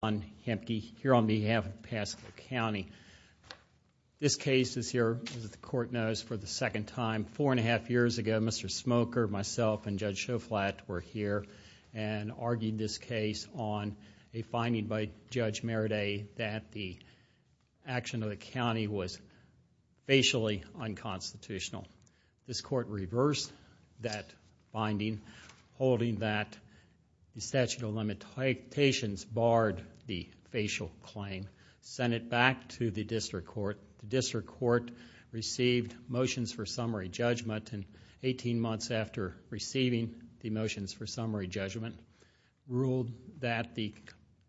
on behalf of Pasco County. This case is here, as the court knows, for the second time. Four and a half years ago, Mr. Smoker, myself, and Judge Schoflat were here and argued this case on a finding by Judge Merida that the action of the county was facially unconstitutional. This court reversed that finding, holding that the statute of limitations barred the facial claim, sent it back to the district court. The district court received motions for summary judgment and 18 months after receiving the motions for summary judgment, ruled that the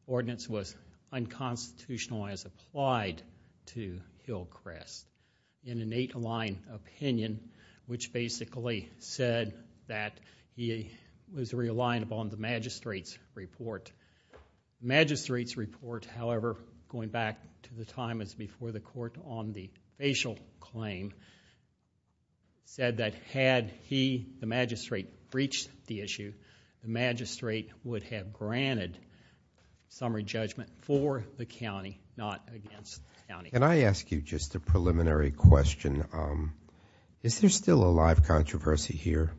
ordinance was unconstitutional and was applied to Hillcrest in an eight-line opinion, which basically said that he was relying upon the magistrate's report. The magistrate's report, however, going back to the time before the court on the facial claim, said that had he, the magistrate, breached the issue, the magistrate would have granted summary judgment for the county, not against the county. Can I ask you just a preliminary question? Is there still a live controversy here?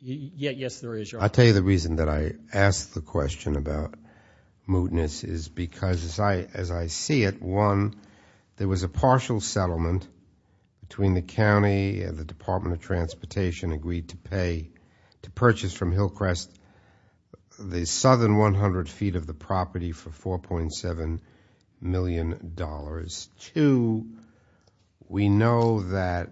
Yes, there is, Your Honor. I'll tell you the reason that I ask the question about mootness is because, as I see it, one, there was a partial settlement between the county and the Department of Transportation agreed to pay, to purchase from Hillcrest the southern 100 feet of the property for $4.7 million. Two, we know that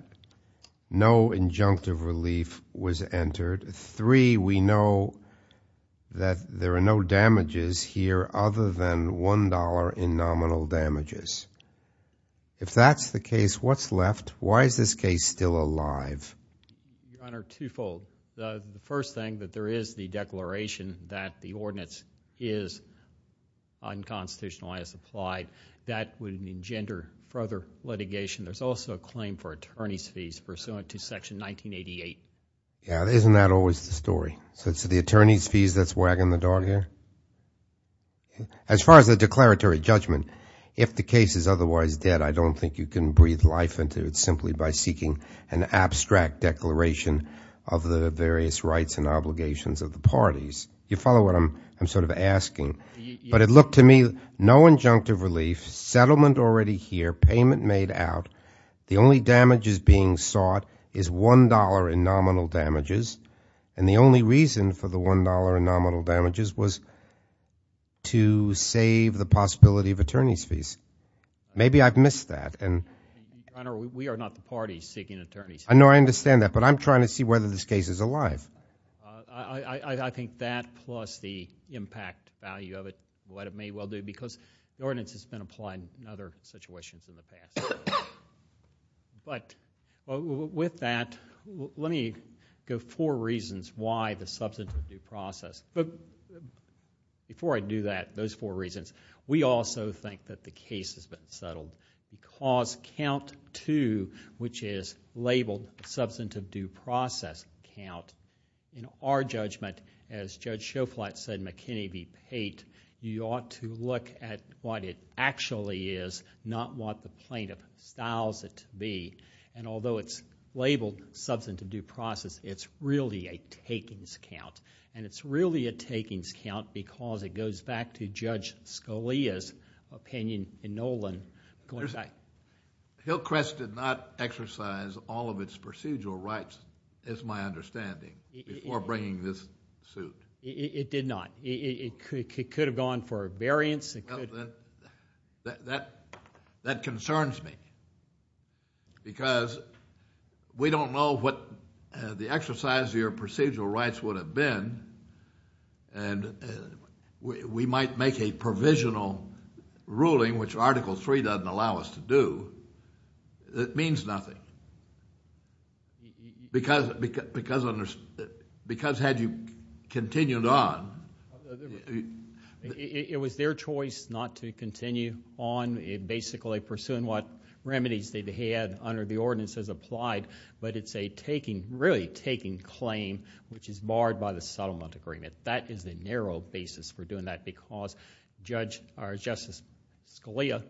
no injunctive relief was entered. Three, we know that there are no damages here other than $1.00 in nominal damages. If that's the case, what's left? Why is this case still alive? Your Honor, twofold. The first thing, that there is the declaration that the ordinance is unconstitutional and is applied. That would engender further litigation. There's also a claim for attorney's fees pursuant to Section 1988. Yeah, isn't that always the story? So it's the attorney's fees that's wagging the dog here? As far as the declaratory judgment, if the case is otherwise dead, I don't think you can breathe life into it simply by seeking an abstract declaration of the various rights and obligations of the parties. You follow what I'm sort of asking? But it looked to me, no injunctive relief, settlement already here, payment made out, the only damages being sought is $1.00 in nominal damages, and the only reason for the $1.00 in nominal damages was to save the possibility of attorney's fees. Maybe I've missed that. Your Honor, we are not the parties seeking attorney's fees. I know, I understand that, but I'm trying to see whether this case is alive. I think that plus the impact value of it, what it may well do, because the ordinance has been applied in other situations in the past. But with that, let me give four reasons why the substantive due process. Before I do that, those four reasons, we also think that the case has been settled, because count two, which is labeled substantive due process count, in our judgment, as Judge Shoflat said, McKinney v. Pate, you ought to look at what it actually is, not what the plaintiff styles it to be. Although it's labeled substantive due process, it's really a takings count. It's really a takings count because it goes back to Judge Scalia's opinion in Nolan going back... Hillcrest did not exercise all of its procedural rights, is my understanding, before bringing this suit. It did not. It could have gone for a variance. That concerns me, because we don't know what the exercise of your procedural rights would have been, and we might make a provisional ruling, which Article III doesn't allow us to do, that means nothing, because had you continued on... It was their choice not to continue on, basically pursuing what remedies they had under the ordinances applied, but it's a really taking claim, which is barred by the settlement agreement. That is the narrow basis for doing that, because Justice Scalia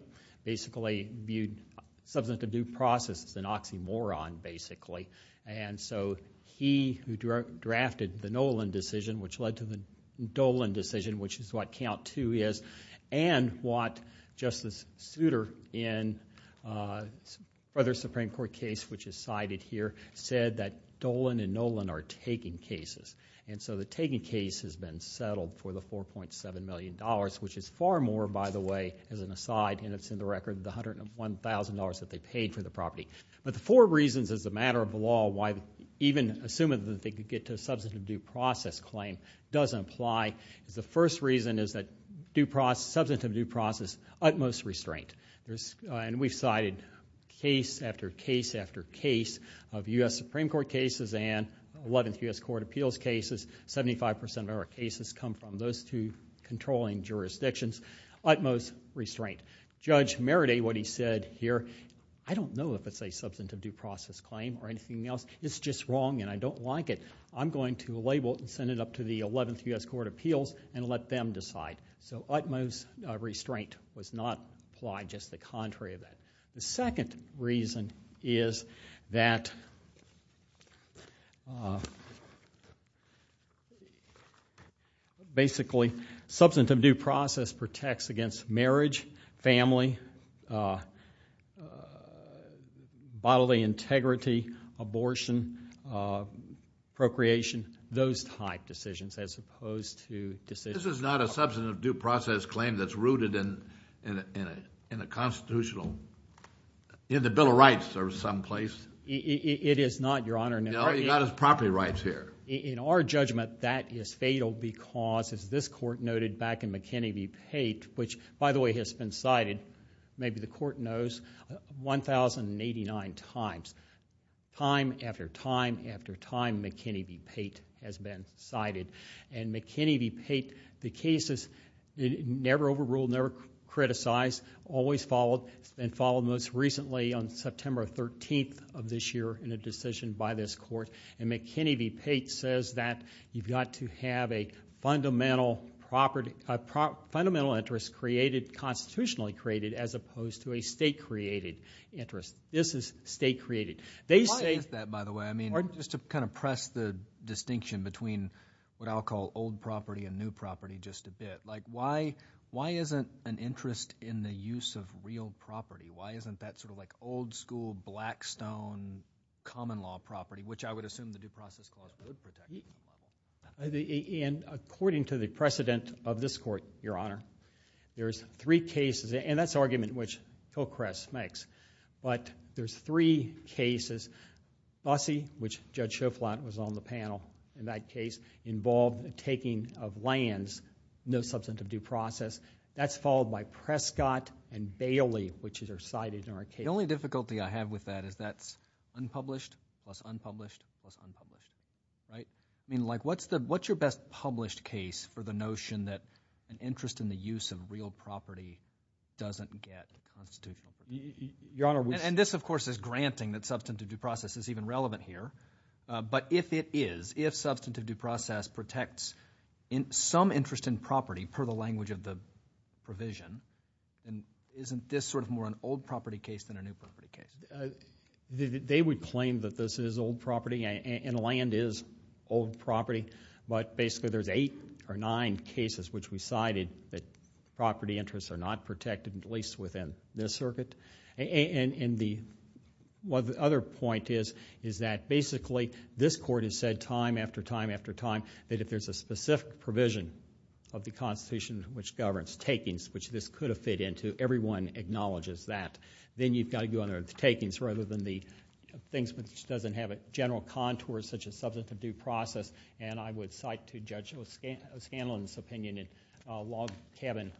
basically viewed substantive due process as an oxymoron, basically. He, who drafted the Nolan decision, which led to the Dolan decision, which is what Count II is, and what Justice Souter, in another Supreme Court case which is cited here, said that Dolan and Nolan are taking cases. The taking case has been settled for the $4.7 million, which is far more, by the way, as an aside, and it's in the record, the $101,000 that they paid for the property. The four reasons, as a matter of law, why even assuming that they could get to a substantive due process claim doesn't apply. The first reason is that substantive due process, utmost restraint. We've cited case after case after case of U.S. Supreme Court cases and 11th U.S. Court of Appeals cases. Seventy-five percent of our cases come from those two controlling jurisdictions. Utmost restraint. Judge Meredith, what he said here, I don't know if it's a substantive due process claim or anything else. It's just wrong, and I don't like it. I'm going to label it and send it up to the 11th U.S. Court of Appeals and let them decide. Utmost restraint was not applied, just the contrary of that. The second reason is that, basically, substantive due process protects against marriage, family, bodily integrity, abortion, procreation, those type decisions as opposed to decisions. This is not a substantive due process claim that's rooted in a constitutional, in the Bill of Rights or someplace. It is not, Your Honor. You've got his property rights here. In our judgment, that is fatal because, as this court noted back in McKinney v. Pate, which, by the way, has been cited, maybe the court knows, 1,089 times. Time after time after time, McKinney v. Pate has been cited. McKinney v. Pate, the case is never overruled, never criticized, always followed, and followed most recently on September 13th of this year in a decision by this court. McKinney v. Pate says that you've got to have a fundamental interest created, constitutionally created, as opposed to a state-created interest. This is state-created. Why is that, by the way? Just to kind of press the distinction between what I'll call old property and new property just a bit. Why isn't an interest in the use of real property? Why isn't that sort of like old-school, blackstone, common-law property, which I would assume the due process clause would protect? According to the precedent of this court, Your Honor, there's three cases, and that's the argument which Hillcrest makes, but there's three cases. Busse, which Judge Schoflat was on the panel in that case, involved the taking of lands, no substantive due process. That's followed by Prescott and Bailey, which are cited in our case. The only difficulty I have with that is that's unpublished plus unpublished plus unpublished, right? I mean, like, what's your best published case for the notion that an interest in the use of real property doesn't get constituted? And this, of course, is granting that substantive due process is even relevant here, but if it is, if substantive due process protects some interest in property, per the language of the provision, isn't this sort of more an old property case than a new property case? They would claim that this is old property, and land is old property, but basically there's eight or nine cases which we cited that property interests are not protected, at least within this circuit. And the other point is that basically this court has said time after time after time that if there's a specific provision of the Constitution which governs takings, which this could have fit into, everyone acknowledges that. Then you've got to go under the takings rather than the things which doesn't have a general contour such as substantive due process, and I would cite to Judge O'Scanlan's opinion in Log Cabin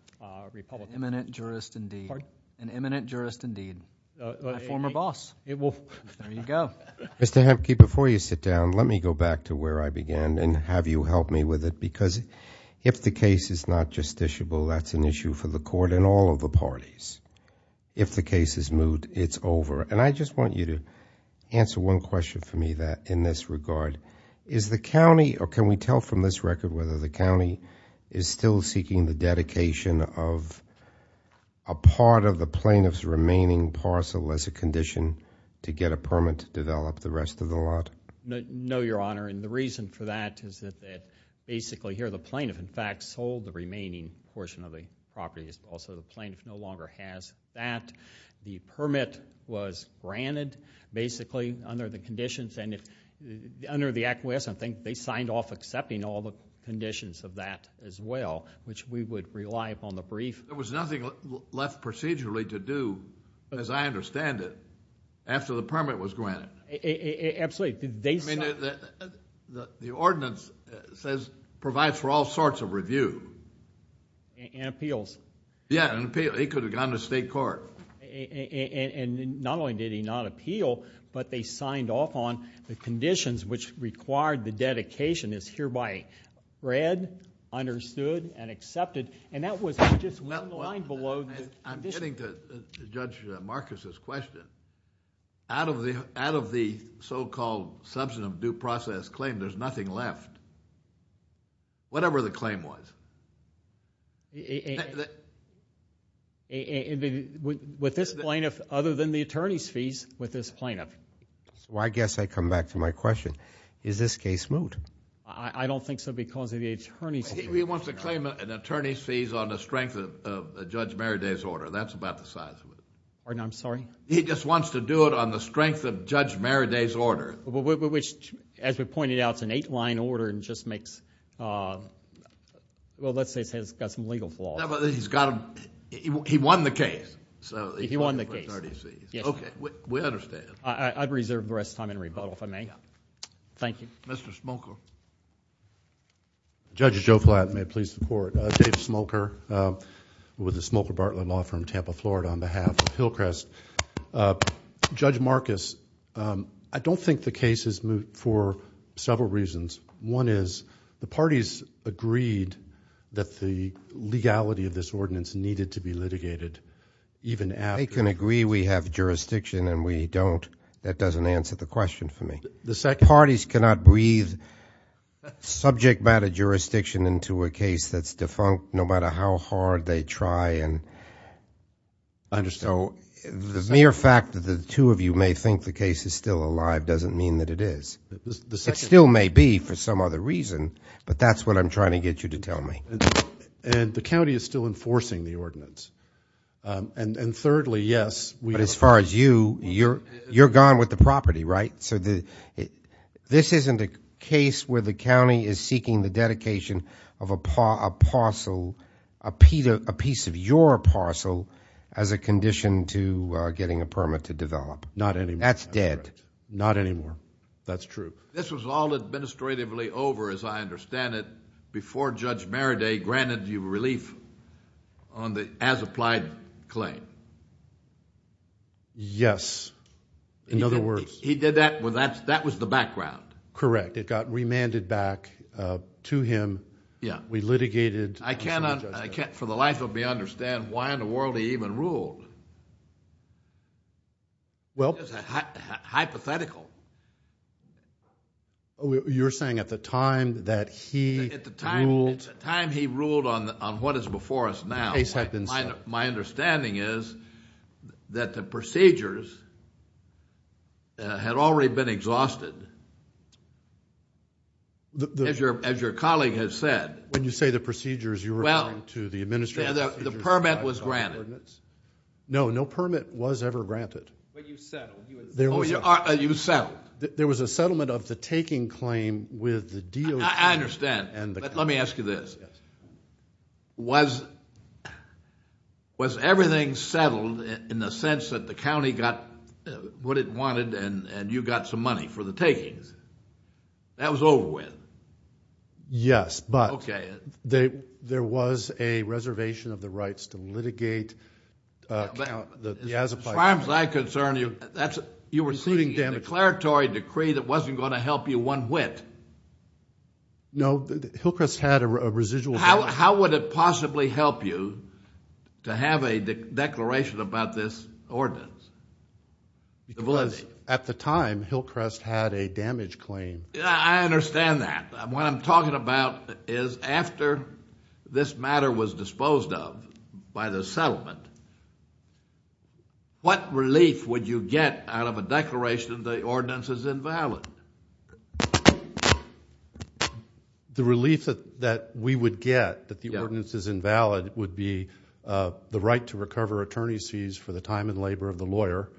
Republican. Imminent jurist indeed. Pardon? An imminent jurist indeed. My former boss. There you go. Mr. Hemke, before you sit down, let me go back to where I began and have you help me with it because if the case is not justiciable, that's an issue for the court and all of the parties. If the case is moved, it's over. And I just want you to answer one question for me in this regard. Is the county or can we tell from this record whether the county is still seeking the dedication of a part of the plaintiff's remaining parcel as a condition to get a permit to develop the rest of the lot? No, Your Honor, and the reason for that is that basically here the plaintiff, in fact, sold the remaining portion of the property. Also, the plaintiff no longer has that. The permit was granted basically under the conditions and under the acquiescence, I think they signed off accepting all the conditions of that as well, which we would rely upon the brief. There was nothing left procedurally to do, as I understand it, after the permit was granted. Absolutely. The ordinance says provides for all sorts of review. And appeals. Yeah, an appeal. It could have gone to state court. And not only did he not appeal, but they signed off on the conditions which required the dedication as hereby read, understood, and accepted. And that was just outlined below the conditions. I'm getting to Judge Marcus' question. Out of the so-called substantive due process claim, there's nothing left, whatever the claim was. With this plaintiff, other than the attorney's fees with this plaintiff. I guess I come back to my question. Is this case moved? I don't think so because of the attorney's fees. He wants to claim an attorney's fees on the strength of Judge Merriday's order. That's about the size of it. Pardon? I'm sorry? He just wants to do it on the strength of Judge Merriday's order. As we pointed out, it's an eight-line order and just makes, well, let's say it's got some legal flaws. He won the case. He won the case. Okay, we understand. I reserve the rest of the time in rebuttal, if I may. Thank you. Mr. Smoker. Judge Joe Flatton, may it please the Court. David Smoker with the Smoker Bartlett Law Firm, Tampa, Florida, on behalf of Hillcrest. Judge Marcus, I don't think the case is moved for several reasons. One is the parties agreed that the legality of this ordinance needed to be litigated. They can agree we have jurisdiction and we don't. That doesn't answer the question for me. The parties cannot breathe subject matter jurisdiction into a case that's defunct no matter how hard they try. I understand. So the mere fact that the two of you may think the case is still alive doesn't mean that it is. It still may be for some other reason, but that's what I'm trying to get you to tell me. And the county is still enforcing the ordinance. And thirdly, yes. But as far as you, you're gone with the property, right? So this isn't a case where the county is seeking the dedication of a parcel, a piece of your parcel, as a condition to getting a permit to develop. Not anymore. That's dead. Not anymore. That's true. This was all administratively over, as I understand it, before Judge Maraday granted you relief on the as-applied claim. Yes. In other words. He did that when that was the background. Correct. It got remanded back to him. Yeah. We litigated. I cannot, for the life of me, understand why in the world he even ruled. Well. Hypothetical. You're saying at the time that he ruled. At the time he ruled on what is before us now. The case had been set. My understanding is that the procedures had already been exhausted. As your colleague has said. When you say the procedures, you're referring to the administrative procedures. The permit was granted. No, no permit was ever granted. But you settled. You settled. There was a settlement of the taking claim with the DOJ. I understand. But let me ask you this. Yes. Was everything settled in the sense that the county got what it wanted and you got some money for the takings? That was over with. Yes. Okay. But there was a reservation of the rights to litigate the as-applied claim. As far as I'm concerned, you were receiving a declaratory decree that wasn't going to help you one whit. No. Hillcrest had a residual. How would it possibly help you to have a declaration about this ordinance? Because at the time, Hillcrest had a damage claim. I understand that. What I'm talking about is after this matter was disposed of by the settlement, what relief would you get out of a declaration that the ordinance is invalid? The relief that we would get that the ordinance is invalid would be the right to recover attorney's fees for the time and labor of the lawyer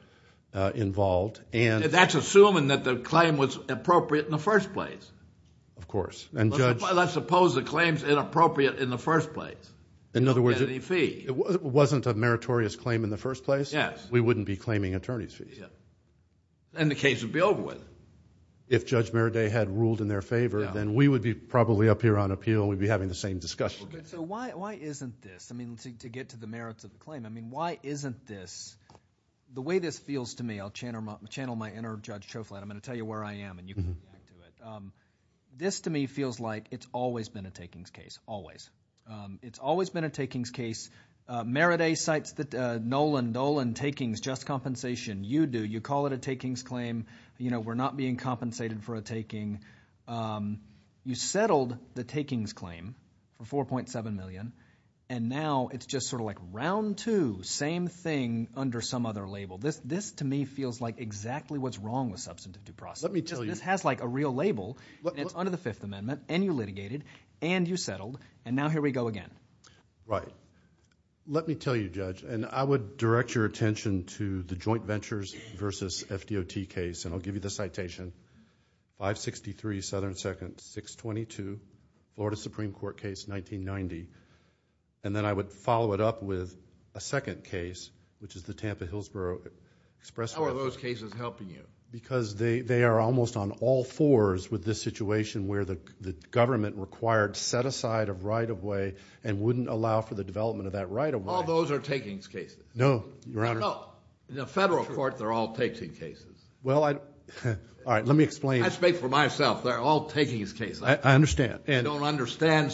involved. That's assuming that the claim was appropriate in the first place. Of course. Let's suppose the claim is inappropriate in the first place. In other words, it wasn't a mandate. If it was a meritorious claim in the first place, we wouldn't be claiming attorney's fees. And the case would be over with. If Judge Meride had ruled in their favor, then we would be probably up here on appeal. We'd be having the same discussion. So why isn't this? I mean, to get to the merits of the claim, I mean, why isn't this? The way this feels to me, I'll channel my inner Judge Chauflin. I'm going to tell you where I am and you can react to it. This to me feels like it's always been a takings case, always. It's always been a takings case. Meride cites the Nolan-Dolan takings, just compensation. You do. You call it a takings claim. We're not being compensated for a taking. You settled the takings claim for $4.7 million. And now it's just sort of like round two, same thing under some other label. This to me feels like exactly what's wrong with substantive due process. This has like a real label. It's under the Fifth Amendment, and you litigated, and you settled. And now here we go again. Right. Let me tell you, Judge, and I would direct your attention to the joint ventures versus FDOT case, and I'll give you the citation. 563 Southern 2nd, 622, Florida Supreme Court case, 1990. And then I would follow it up with a second case, which is the Tampa-Hillsborough Express... How are those cases helping you? Because they are almost on all fours with this situation where the government required set-aside of right-of-way and wouldn't allow for the development of that right-of-way. All those are takings cases. No, Your Honor. No. In a federal court, they're all takings cases. Well, I... All right. Let me explain. I speak for myself. They're all takings cases. I understand. I don't understand.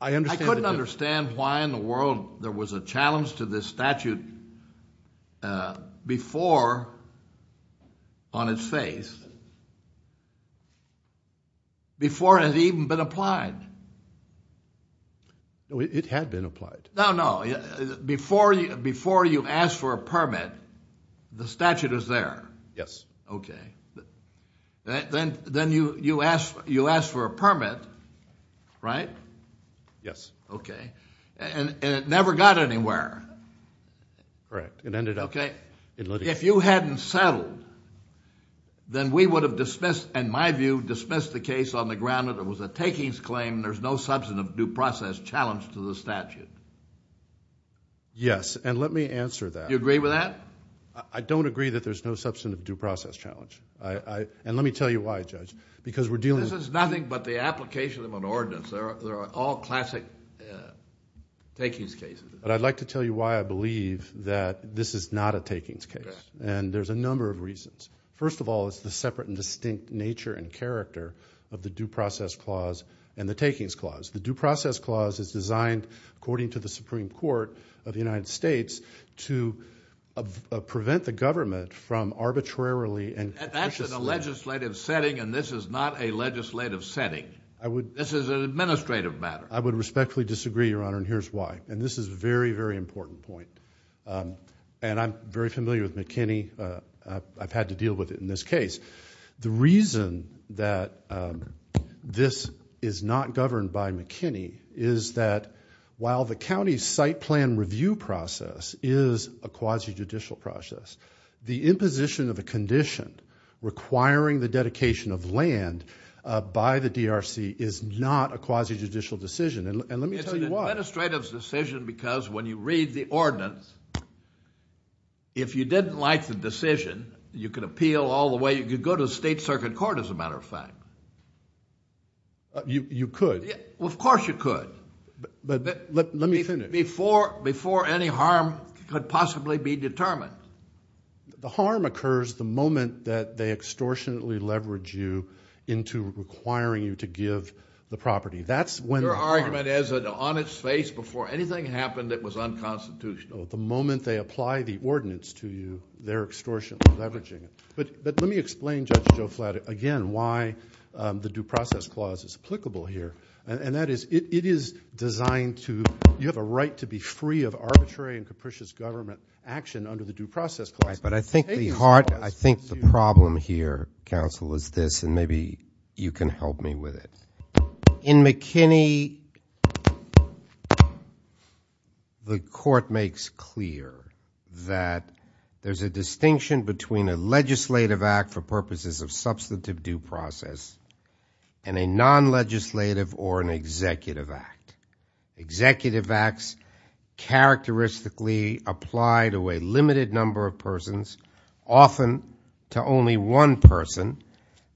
I understand. I couldn't understand why in the world there was a challenge to this statute before on its face, before it had even been applied. It had been applied. No, no. Before you asked for a permit, the statute was there. Yes. Okay. Then you asked for a permit, right? Yes. Okay. And it never got anywhere. Correct. It ended up in litigation. Okay. If you hadn't settled, then we would have dismissed, in my view, dismissed the case on the ground that it was a takings claim. There's no substantive due process challenge to the statute. Yes. And let me answer that. Do you agree with that? I don't agree that there's no substantive due process challenge. And let me tell you why, Judge, because we're dealing... This is nothing but the application of an ordinance. There are all classic takings cases. But I'd like to tell you why I believe that this is not a takings case. And there's a number of reasons. First of all, it's the separate and distinct nature and character of the due process clause and the takings clause. The due process clause is designed, according to the Supreme Court of the United States, to prevent the government from arbitrarily... I would... This is an administrative matter. I would respectfully disagree, Your Honor, and here's why. And this is a very, very important point. And I'm very familiar with McKinney. I've had to deal with it in this case. The reason that this is not governed by McKinney is that while the county's site plan review process is a quasi-judicial process, the imposition of a condition requiring the dedication of land by the DRC is not a quasi-judicial decision. And let me tell you why. It's an administrative decision because when you read the ordinance, if you didn't like the decision, you could appeal all the way. You could go to the State Circuit Court, as a matter of fact. You could. Of course you could. But let me finish. Before any harm could possibly be determined. The harm occurs the moment that they extortionately leverage you into requiring you to give the property. Your argument is an honest face before anything happened that was unconstitutional. The moment they apply the ordinance to you, they're extortionately leveraging it. But let me explain, Judge Joe Flatt, again, why the Due Process Clause is applicable here. And that is it is designed to – you have a right to be free of arbitrary and capricious government action under the Due Process Clause. But I think the problem here, counsel, is this. And maybe you can help me with it. In McKinney, the court makes clear that there's a distinction between a legislative act for purposes of substantive due process and a non-legislative or an executive act. Executive acts characteristically apply to a limited number of persons, often to only one person.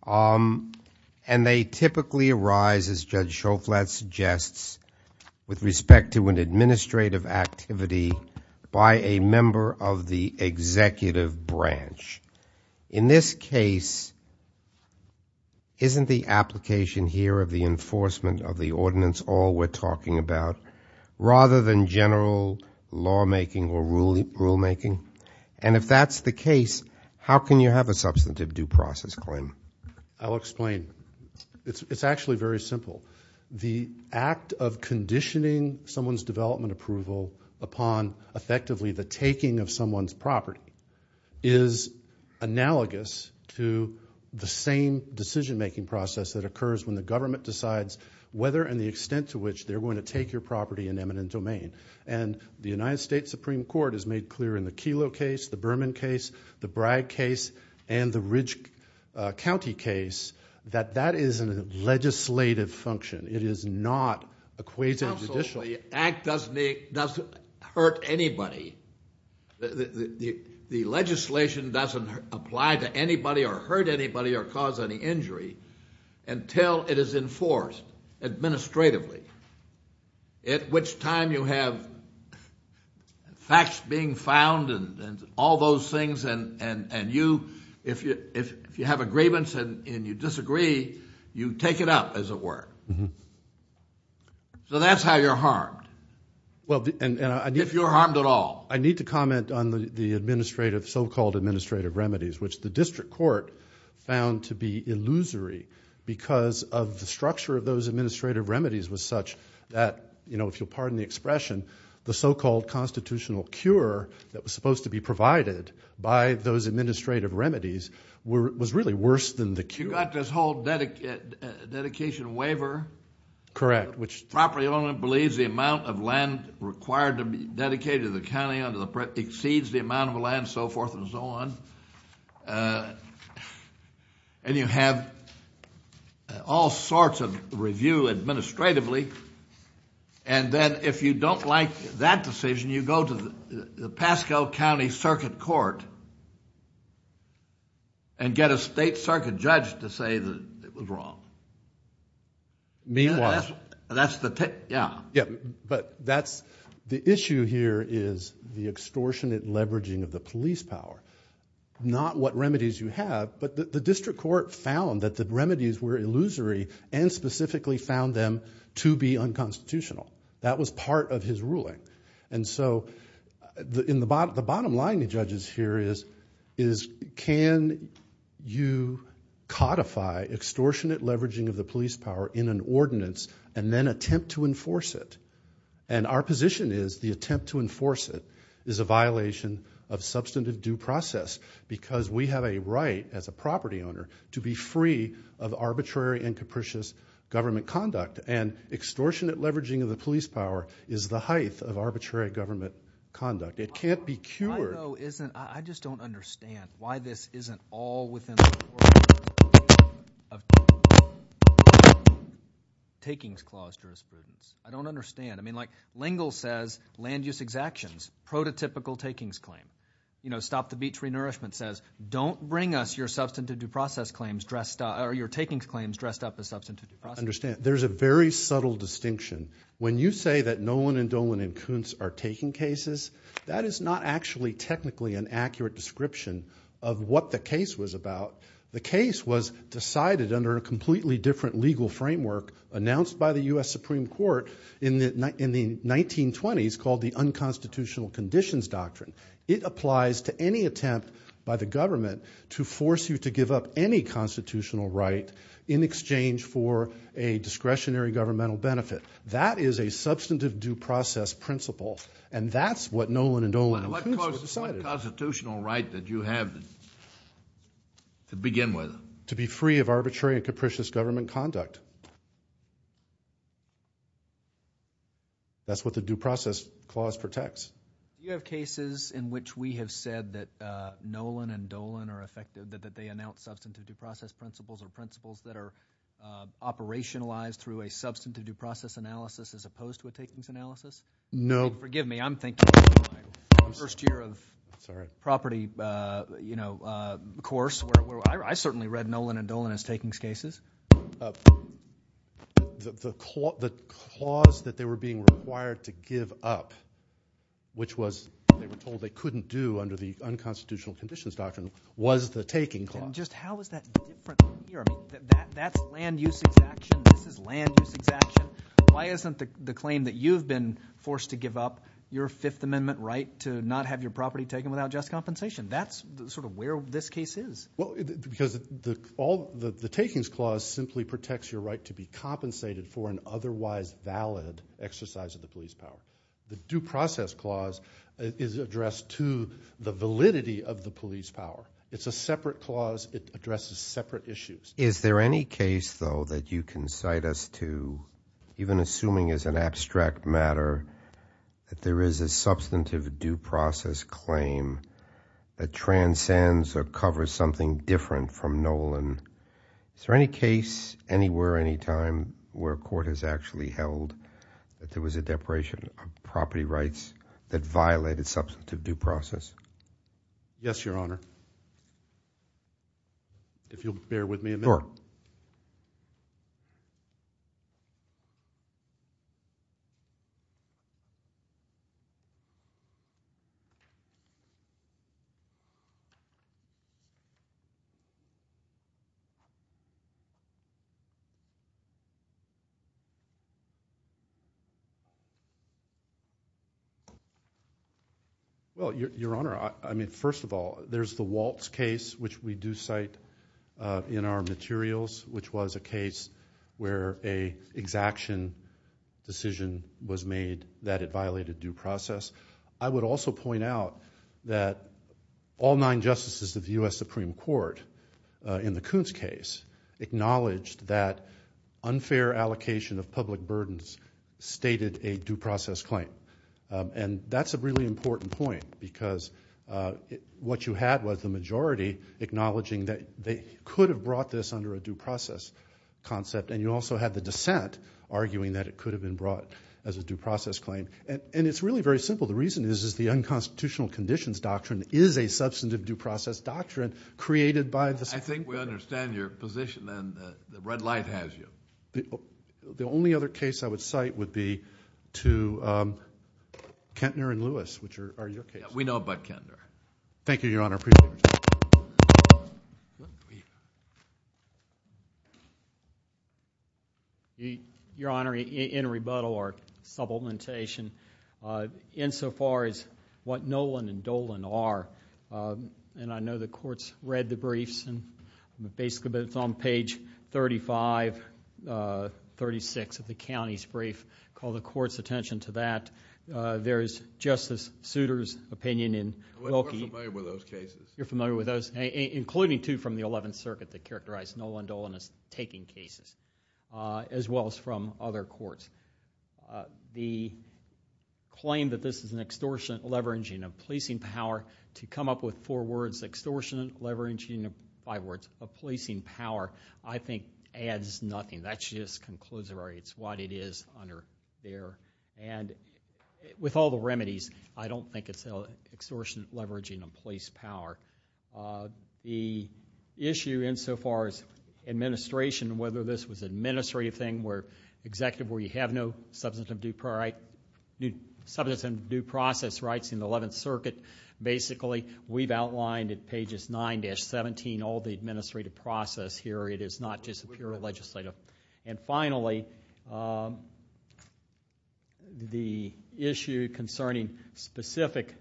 And they typically arise, as Judge Joe Flatt suggests, with respect to an administrative activity by a member of the executive branch. In this case, isn't the application here of the enforcement of the ordinance all we're talking about rather than general lawmaking or rulemaking? And if that's the case, how can you have a substantive due process claim? I'll explain. It's actually very simple. The act of conditioning someone's development approval upon, effectively, the taking of someone's property is analogous to the same decision-making process that occurs when the government decides whether and the extent to which they're going to take your property in eminent domain. And the United States Supreme Court has made clear in the Kelo case, the Berman case, the Bragg case, and the Ridge County case that that is a legislative function. It is not a quasi-judicial function. Absolutely. The act doesn't hurt anybody. The legislation doesn't apply to anybody or hurt anybody or cause any injury until it is enforced administratively, at which time you have facts being found and all those things, and if you have a grievance and you disagree, you take it up, as it were. So that's how you're harmed, if you're harmed at all. I need to comment on the so-called administrative remedies, which the district court found to be illusory because of the structure of those administrative remedies was such that, if you'll pardon the expression, the so-called constitutional cure that was supposed to be provided by those administrative remedies was really worse than the cure. You've got this whole dedication waiver. Correct. Property owner believes the amount of land required to be dedicated to the county exceeds the amount of land, so forth and so on. And you have all sorts of review administratively, and then if you don't like that decision, you go to the Pasco County Circuit Court and get a state circuit judge to say that it was wrong. Me, it was. That's the tip, yeah. The issue here is the extortionate leveraging of the police power, not what remedies you have, but the district court found that the remedies were illusory and specifically found them to be unconstitutional. That was part of his ruling. And so the bottom line to judges here is, can you codify extortionate leveraging of the police power in an ordinance and then attempt to enforce it? And our position is the attempt to enforce it is a violation of substantive due process because we have a right as a property owner to be free of arbitrary and capricious government conduct, and extortionate leveraging of the police power is the height of arbitrary government conduct. It can't be cured. I just don't understand why this isn't all within the order of takings clause jurisprudence. I don't understand. I mean, like Lengel says land use exactions, prototypical takings claim. Stop the Beach Renourishment says don't bring us your substantive due process claims dressed up, or your takings claims dressed up as substantive due process claims. I understand. There's a very subtle distinction. When you say that Nolan and Dolan and Kuntz are taking cases, that is not actually technically an accurate description of what the case was about. The case was decided under a completely different legal framework announced by the U.S. Supreme Court in the 1920s called the Unconstitutional Conditions Doctrine. It applies to any attempt by the government to force you to give up any constitutional right in exchange for a discretionary governmental benefit. That is a substantive due process principle, and that's what Nolan and Dolan and Kuntz decided. What constitutional right did you have to begin with? To be free of arbitrary and capricious government conduct. That's what the due process clause protects. Do you have cases in which we have said that Nolan and Dolan are effective, that they announce substantive due process principles, or principles that are operationalized through a substantive due process analysis as opposed to a takings analysis? No. Forgive me. I'm thinking of my first year of property course where I certainly read Nolan and Dolan as takings cases. The clause that they were being required to give up, which was they were told they couldn't do under the Unconstitutional Conditions Doctrine, was the taking clause. How is that different from here? That's land use exemption. This is land use exemption. Why isn't the claim that you've been forced to give up your Fifth Amendment right to not have your property taken without just compensation? That's sort of where this case is. The takings clause simply protects your right to be compensated for an otherwise valid exercise of the police power. The due process clause is addressed to the validity of the police power. It's a separate clause. It addresses separate issues. Is there any case, though, that you can cite us to, even assuming it's an abstract matter, that there is a substantive due process claim that transcends or covers something different from Nolan? Is there any case anywhere, anytime, where a court has actually held that there was a deparation of property rights that violated substantive due process? Yes, Your Honor. If you'll bear with me a minute. Sure. Well, Your Honor, I mean, first of all, there's the Waltz case, which we do cite in our materials, which was a case where an exaction decision was made that it violated due process. I would also point out that all nine justices of the U.S. Supreme Court in the Kuntz case acknowledged that unfair allocation of public burdens stated a due process claim. And that's a really important point because what you had was the majority acknowledging that they could have brought this under a due process concept, and you also had the dissent arguing that it could have been brought as a due process claim. And it's really very simple. The reason is the unconstitutional conditions doctrine is a substantive due process doctrine created by the Supreme Court. I think we understand your position, and the red light has you. The only other case I would cite would be to Kintner and Lewis, which are your cases. We know about Kintner. Thank you, Your Honor. I appreciate your time. Your Honor, in rebuttal or supplementation, insofar as what Nolan and Dolan are, and I know the court's read the briefs, and basically it's on page 35, 36 of the county's brief. Call the court's attention to that. There is Justice Souter's opinion in Wilkie. We're familiar with those cases. You're familiar with those, including, too, from the Eleventh Circuit that characterized Nolan and Dolan as taking cases, as well as from other courts. The claim that this is an extortionate leveraging of policing power, to come up with four words, extortionate leveraging of five words, of policing power, I think adds nothing. That just concludes it already. It's what it is under there. With all the remedies, I don't think it's an extortionate leveraging of police power. The issue, insofar as administration, whether this was an administrative thing, executive where you have no substantive due process rights in the Eleventh Circuit, basically we've outlined at pages 9-17 all the administrative process here. It is not just pure legislative. Finally, the issue concerning specific,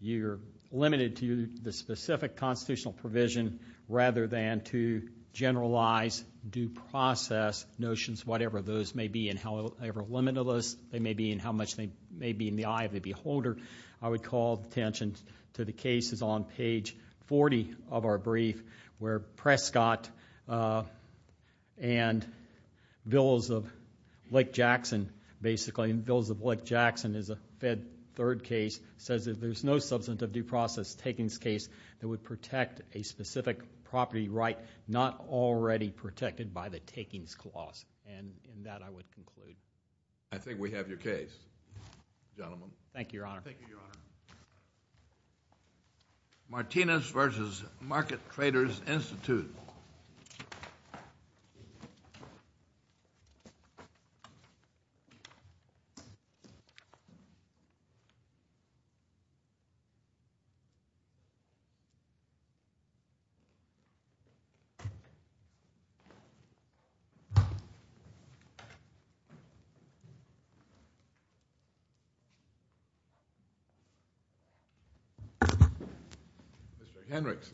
you're limited to the specific constitutional provision, rather than to generalize due process notions, whatever those may be, and however limited they may be, and how much they may be in the eye of the beholder. I would call attention to the cases on page 40 of our brief, where Prescott and Bills of Lake Jackson, basically, and Bills of Lake Jackson is a Fed third case, says that there's no substantive due process takings case that would protect a specific property right not already protected by the takings clause. In that, I would conclude. I think we have your case, gentlemen. Thank you, Your Honor. Thank you, Your Honor. Martinez v. Market Traders Institute. Mr. Hendricks.